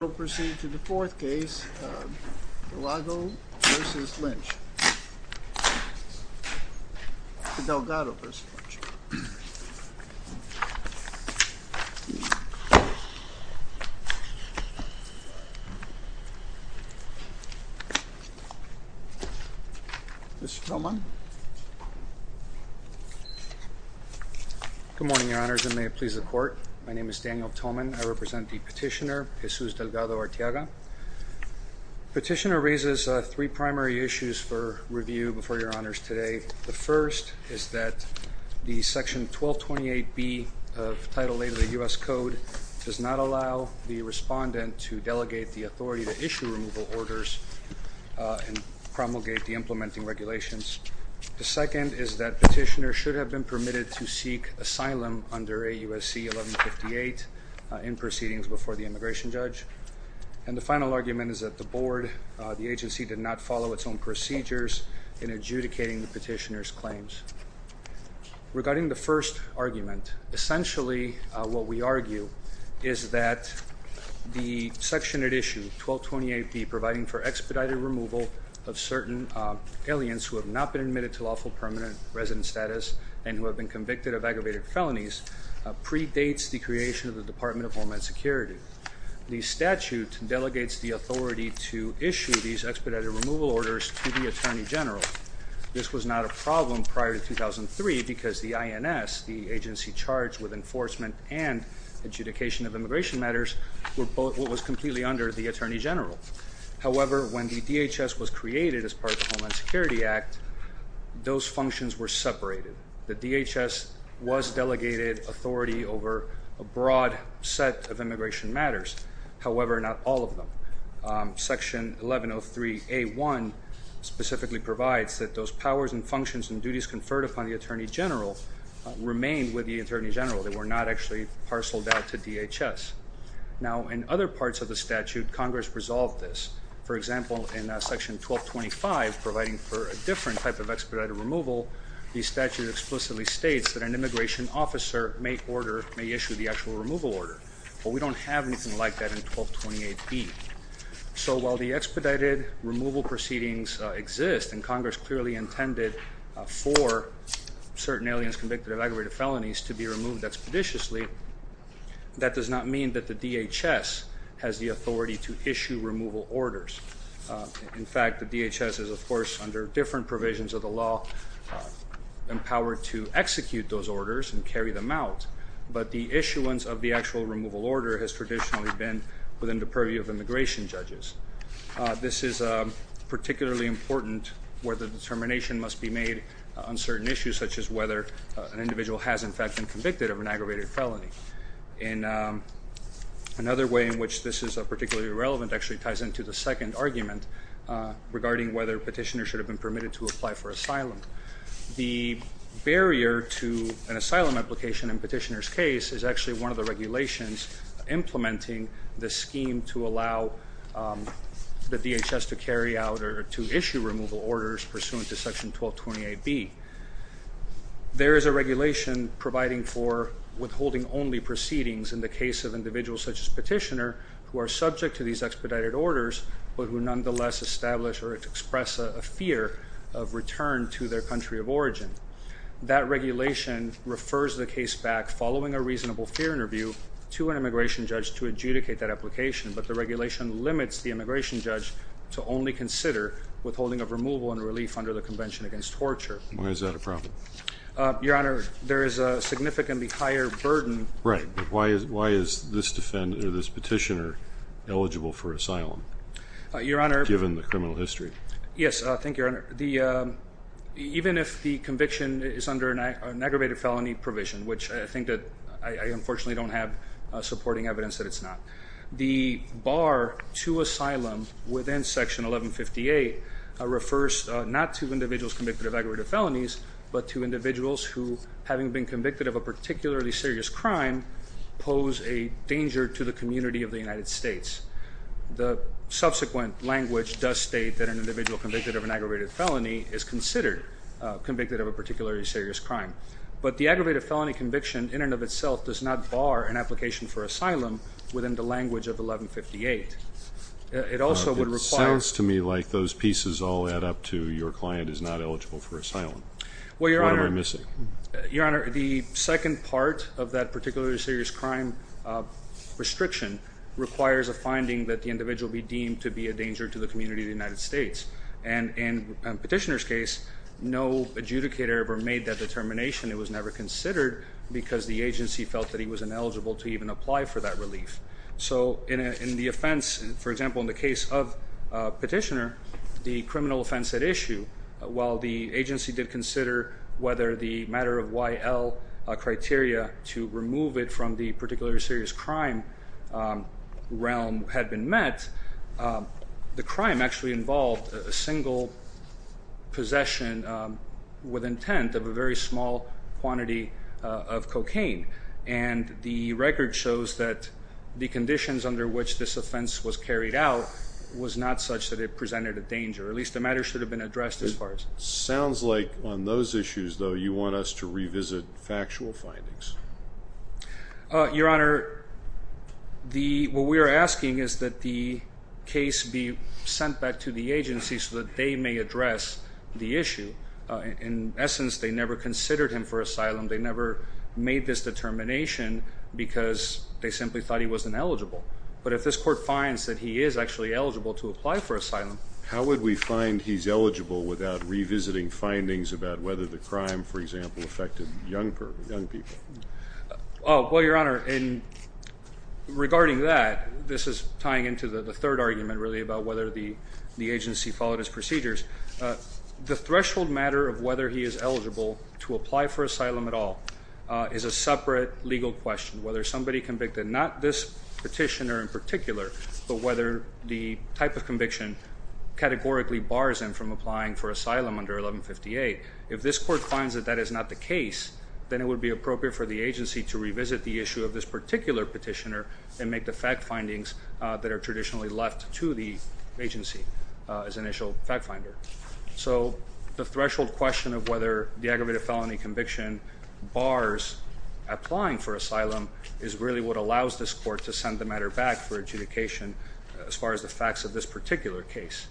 We'll proceed to the fourth case, Delgado v. Lynch, Delgado v. Lynch. Mr. Thoman. Good morning, Your Honors, and may it please the Court. My name is Daniel Thoman. I represent the petitioner, Jesus Delgado-Arteaga. The petitioner raises three primary issues for review before Your Honors today. The first is that the Section 1228B of Title 8 of the U.S. Code does not allow the respondent to delegate the authority to issue removal orders and promulgate the implementing regulations. The second is that petitioner should have been permitted to seek asylum under AUSC 1158 in proceedings before the immigration judge. And the final argument is that the Board, the agency, did not follow its own procedures in adjudicating the petitioner's claims. Regarding the first argument, essentially what we argue is that the section at issue, 1228B, providing for expedited removal of certain aliens who have not been admitted to lawful permanent resident status and who have been convicted of aggravated felonies predates the creation of the Department of Homeland Security. The statute delegates the authority to issue these expedited removal orders to the Attorney General. This was not a problem prior to 2003 because the INS, the agency charged with enforcement and adjudication of immigration matters, was completely under the Attorney General. However, when the DHS was created as part of the Homeland Security Act, those functions were separated. The DHS was delegated authority over a broad set of immigration matters. However, not all of them. Section 1103A1 specifically provides that those powers and functions and duties conferred upon the Attorney General remain with the Attorney General. They were not actually parceled out to DHS. Now, in other parts of the statute, Congress resolved this. For example, in section 1225, providing for a different type of expedited removal, the statute explicitly states that an immigration officer may issue the actual removal order. But we don't have anything like that in 1228B. So while the expedited removal proceedings exist, and Congress clearly intended for certain aliens convicted of aggravated felonies to be removed expeditiously, that does not mean that the DHS has the authority to issue removal orders. In fact, the DHS is, of course, under different provisions of the law empowered to execute those orders and carry them out. But the issuance of the actual removal order has traditionally been within the purview of immigration judges. This is particularly important where the determination must be made on certain issues, such as whether an individual has, in fact, been convicted of an aggravated felony. And another way in which this is particularly relevant actually ties into the second argument regarding whether petitioners should have been permitted to apply for asylum. The barrier to an asylum application in petitioner's case is actually one of the regulations implementing the scheme to allow the DHS to carry out or to issue removal orders pursuant to section 1228B. There is a regulation providing for withholding only proceedings in the case of individuals such as petitioner who are subject to these expedited orders, but who nonetheless establish or express a fear of return to their country of origin. That regulation refers the case back following a reasonable fear interview to an immigration judge to adjudicate that application, but the regulation limits the immigration judge to only consider withholding of removal and relief under the Convention Against Torture. Why is that a problem? Your Honor, there is a significantly higher burden. Right, but why is this petitioner eligible for asylum, given the criminal history? Yes, thank you, Your Honor. Even if the conviction is under an aggravated felony provision, which I think that I unfortunately don't have supporting evidence that it's not, the bar to asylum within section 1158 refers not to individuals convicted of aggravated felonies, but to individuals who, having been convicted of a particularly serious crime, pose a danger to the community of the United States. The subsequent language does state that an individual convicted of an aggravated felony is considered convicted of a particularly serious crime, but the aggravated felony conviction in and of itself does not bar an application for asylum within the language of 1158. It sounds to me like those pieces all add up to your client is not eligible for asylum. What am I missing? Your Honor, the second part of that particularly serious crime restriction requires a finding that the individual be deemed to be a danger to the community of the United States, and in the petitioner's case, no adjudicator ever made that determination. It was never considered because the agency felt that he was ineligible to even apply for that relief. So in the offense, for example, in the case of petitioner, the criminal offense at issue, while the agency did consider whether the matter of YL criteria to remove it from the particularly serious crime realm had been met, the crime actually involved a single possession with intent of a very small quantity of cocaine, and the record shows that the conditions under which this offense was carried out was not such that it presented a danger. At least the matter should have been addressed as far as. Sounds like on those issues, though, you want us to revisit factual findings. Your Honor, what we are asking is that the case be sent back to the agency so that they may address the issue. In essence, they never considered him for asylum. They never made this determination because they simply thought he was ineligible. But if this court finds that he is actually eligible to apply for asylum. How would we find he's eligible without revisiting findings about whether the crime, for example, affected young people? Well, Your Honor, regarding that, this is tying into the third argument, really, about whether the agency followed his procedures. The threshold matter of whether he is eligible to apply for asylum at all is a separate legal question. Whether somebody convicted, not this petitioner in particular, but whether the type of conviction categorically bars him from applying for asylum under 1158. If this court finds that that is not the case, then it would be appropriate for the agency to revisit the issue of this particular petitioner and make the fact findings that are traditionally left to the agency as initial fact finder. So the threshold question of whether the aggravated felony conviction bars applying for asylum is really what allows this court to send the matter back for adjudication as far as the facts of this particular case.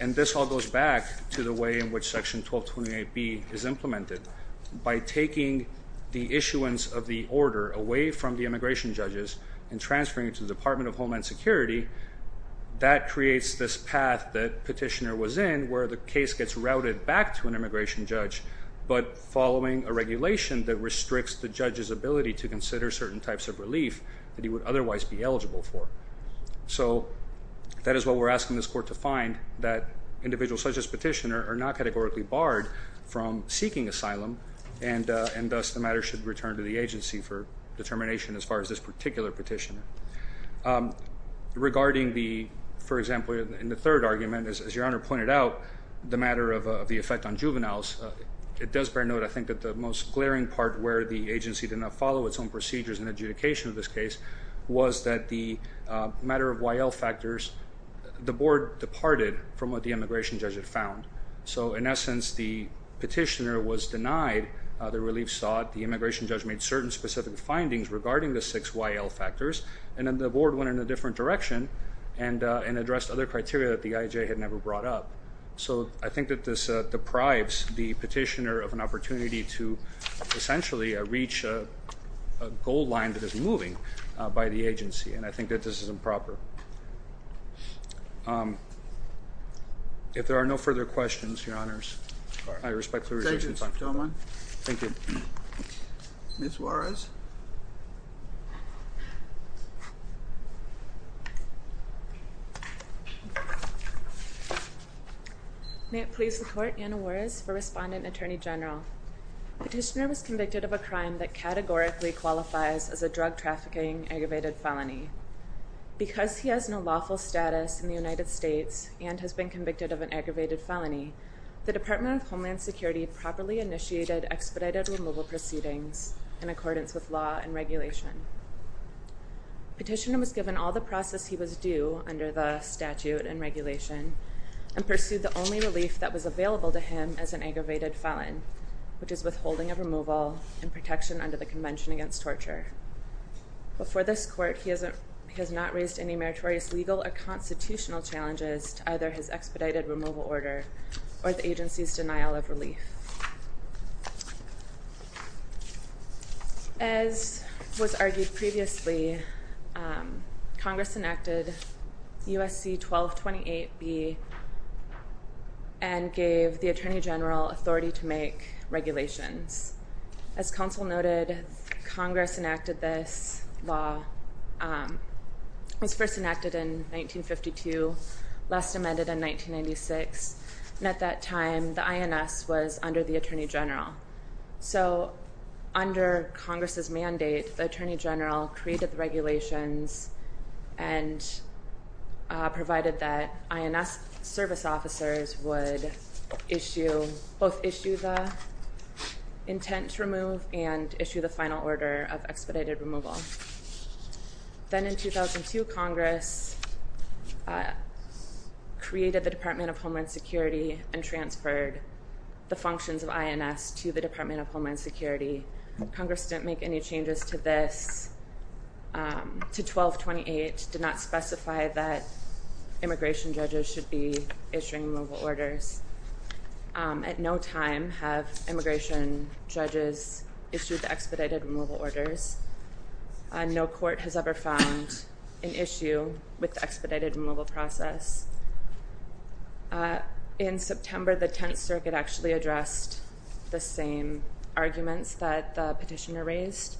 And this all goes back to the way in which Section 1228B is implemented. By taking the issuance of the order away from the immigration judges and transferring it to the Department of Homeland Security, that creates this path that petitioner was in where the case gets routed back to an immigration judge, but following a regulation that restricts the judge's ability to consider certain types of relief that he would otherwise be eligible for. So that is what we're asking this court to find, that individuals such as petitioner are not categorically barred from seeking asylum, and thus the matter should return to the agency for determination as far as this particular petitioner. Regarding the, for example, in the third argument, as Your Honor pointed out, the matter of the effect on juveniles, it does bear note, I think, that the most glaring part where the agency did not follow its own procedures in adjudication of this case was that the matter of YL factors, the board departed from what the immigration judge had found. So in essence, the petitioner was denied the relief sought, the immigration judge made certain specific findings regarding the six YL factors, and then the board went in a different direction and addressed other criteria that the IHA had never brought up. So I think that this deprives the petitioner of an opportunity to essentially reach a goal line that is moving by the agency, and I think that this is improper. If there are no further questions, Your Honors, I respect the reservation time. Thank you. Ms. Juarez? May it please the Court, Anna Juarez for Respondent Attorney General. Petitioner was convicted of a crime that categorically qualifies as a drug trafficking aggravated felony. Because he has no lawful status in the United States and has been convicted of an aggravated felony, the Department of Homeland Security properly initiated expedited removal proceedings in accordance with law and regulation. Petitioner was given all the process he was due under the statute and regulation and pursued the only relief that was available to him as an aggravated felon, which is withholding of removal and protection under the Convention Against Torture. Before this Court, he has not raised any meritorious legal or constitutional challenges to either his expedited removal order or the agency's denial of relief. As was argued previously, Congress enacted USC 1228B and gave the Attorney General authority to make regulations. As counsel noted, Congress enacted this law. It was first enacted in 1952, last amended in 1996, and at that time the INS was under the Attorney General. So under Congress's mandate, the Attorney General created the regulations and provided that INS service officers would both issue the intent to remove and issue the final order of expedited removal. Then in 2002, Congress created the Department of Homeland Security and transferred the functions of INS to the Department of Homeland Security. Congress didn't make any changes to this, to 1228, did not specify that immigration judges should be issuing removal orders. At no time have immigration judges issued the expedited removal orders. No court has ever found an issue with the expedited removal process. In September, the Tenth Circuit actually addressed the same arguments that the petitioner raised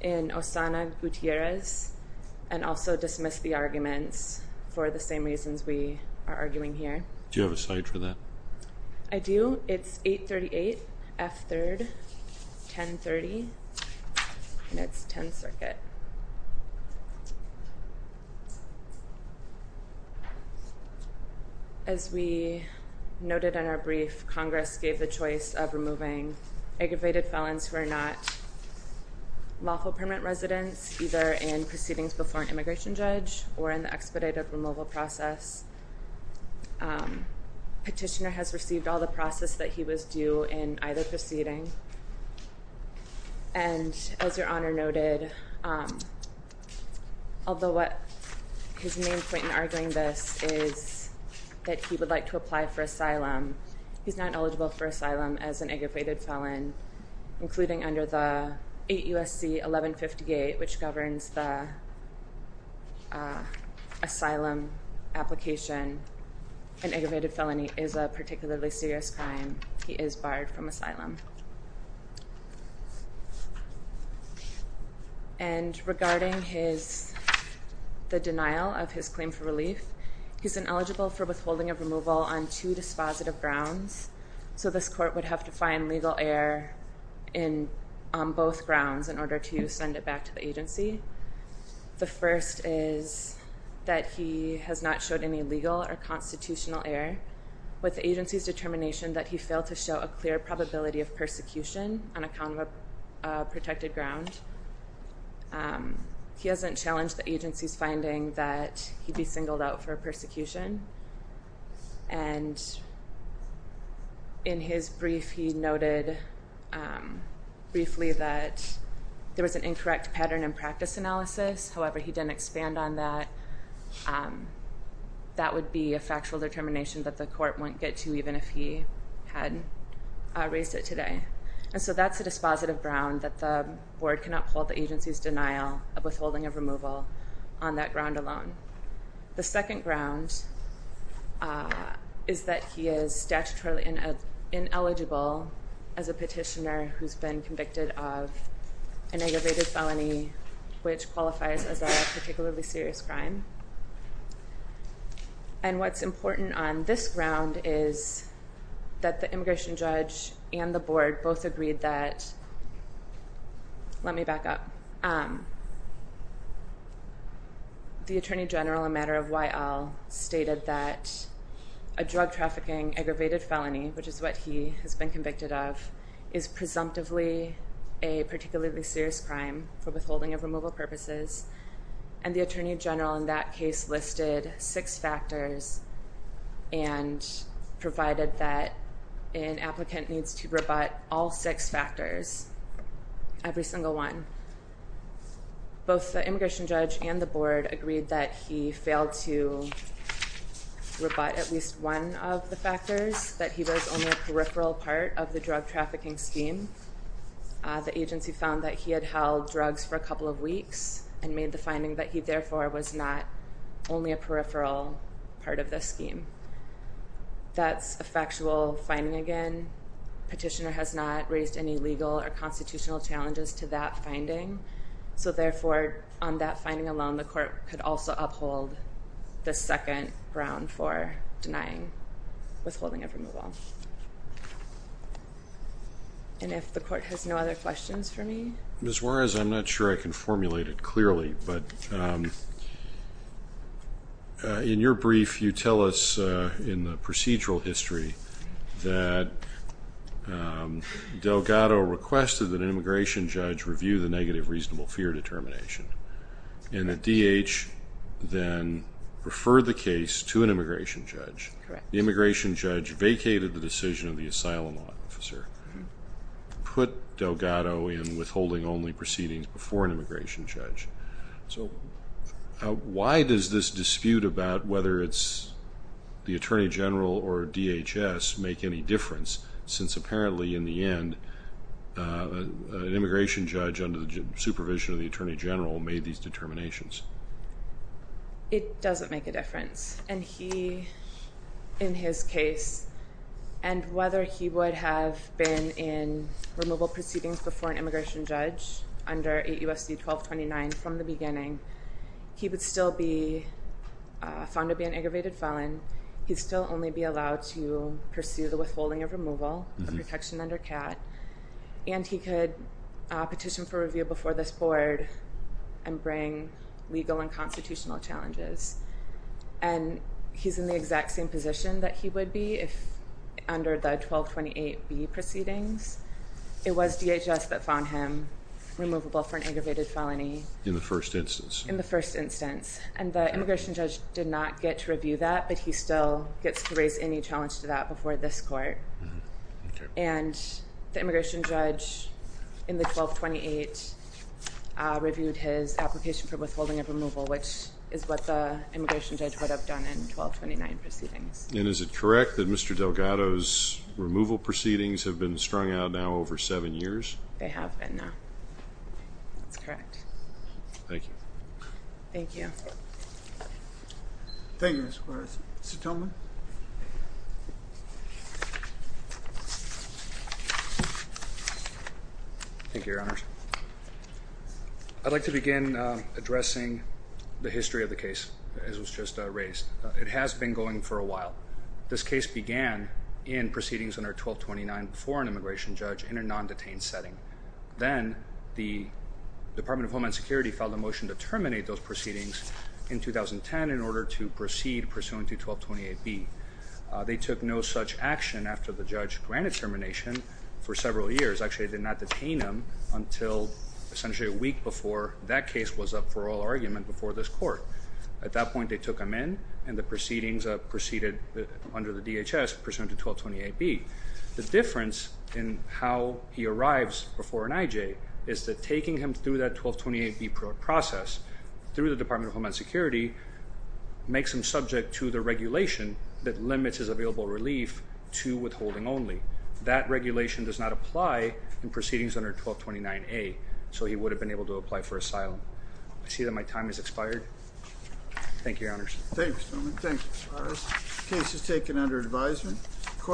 in Osana Gutierrez and also dismissed the arguments for the same reasons we are arguing here. Do you have a cite for that? I do. It's 838 F. 3rd, 1030. And it's Tenth Circuit. As we noted in our brief, Congress gave the choice of removing aggravated felons who are not lawful permanent residents, either in proceedings before an immigration judge or in the expedited removal process. Petitioner has received all the process that he was due in either proceeding. And as Your Honor noted, although what his main point in arguing this is that he would like to apply for asylum, he's not eligible for asylum as an aggravated felon, including under the 8 U.S.C. 1158, which governs the asylum application. An aggravated felony is a particularly serious crime. He is barred from asylum. And regarding the denial of his claim for relief, he's ineligible for withholding of removal on two dispositive grounds. So this court would have to find legal error on both grounds in order to send it back to the agency. The first is that he has not showed any legal or constitutional error with the agency's determination that he failed to show a clear probability of persecution on account of a protected ground. He hasn't challenged the agency's finding that he'd be singled out for persecution. And in his brief, he noted briefly that there was an incorrect pattern in practice analysis. However, he didn't expand on that. That would be a factual determination that the court wouldn't get to even if he had raised it today. And so that's a dispositive ground that the board cannot hold the agency's denial of withholding of removal on that ground alone. The second ground is that he is statutorily ineligible as a petitioner who's been convicted of an aggravated felony, which qualifies as a particularly serious crime. And what's important on this ground is that the immigration judge and the board both agreed that, let me back up, the attorney general, a matter of why all, stated that a drug trafficking aggravated felony, which is what he has been convicted of, is presumptively a particularly serious crime for withholding of removal purposes. And the attorney general in that case listed six factors and provided that an applicant needs to rebut all six factors, every single one. Both the immigration judge and the board agreed that he failed to rebut at least one of the factors, that he was only a peripheral part of the drug trafficking scheme. The agency found that he had held drugs for a couple of weeks and made the finding that he, therefore, was not only a peripheral part of the scheme. That's a factual finding again. Petitioner has not raised any legal or constitutional challenges to that finding. So, therefore, on that finding alone, the court could also uphold the second ground for denying withholding of removal. And if the court has no other questions for me? Ms. Juarez, I'm not sure I can formulate it clearly, but in your brief you tell us in the procedural history that Delgado requested that an immigration judge review the negative reasonable fear determination. And that DH then referred the case to an immigration judge. Correct. The immigration judge vacated the decision of the asylum officer, put Delgado in withholding only proceedings before an immigration judge. So, why does this dispute about whether it's the attorney general or DHS make any difference since apparently in the end an immigration judge under the supervision of the attorney general made these determinations? It doesn't make a difference. And he, in his case, and whether he would have been in removal proceedings before an immigration judge under 8 U.S.C. 1229 from the beginning, he would still be found to be an aggravated felon. He'd still only be allowed to pursue the withholding of removal of protection under CAT, and he could petition for review before this board and bring legal and constitutional challenges. And he's in the exact same position that he would be if under the 1228B proceedings. It was DHS that found him removable for an aggravated felony. In the first instance? In the first instance. And the immigration judge did not get to review that, but he still gets to raise any challenge to that before this court. And the immigration judge in the 1228 reviewed his application for withholding of removal, which is what the immigration judge would have done in 1229 proceedings. And is it correct that Mr. Delgado's removal proceedings have been strung out now over seven years? Thank you. Thank you. Thank you, Ms. Quarles. Mr. Tillman? Thank you, Your Honors. I'd like to begin addressing the history of the case, as was just raised. It has been going for a while. This case began in proceedings under 1229 before an immigration judge in a non-detained setting. Then the Department of Homeland Security filed a motion to terminate those proceedings in 2010 in order to proceed pursuant to 1228B. They took no such action after the judge granted termination for several years. Actually, they did not detain him until essentially a week before that case was up for oral argument before this court. At that point, they took him in, and the proceedings proceeded under the DHS pursuant to 1228B. The difference in how he arrives before an IJ is that taking him through that 1228B process through the Department of Homeland Security makes him subject to the regulation that limits his available relief to withholding only. That regulation does not apply in proceedings under 1229A, so he would have been able to apply for asylum. I see that my time has expired. Thank you, Your Honors. Thank you, Mr. Tillman. Thank you, Ms. Quarles. The case is taken under advisement.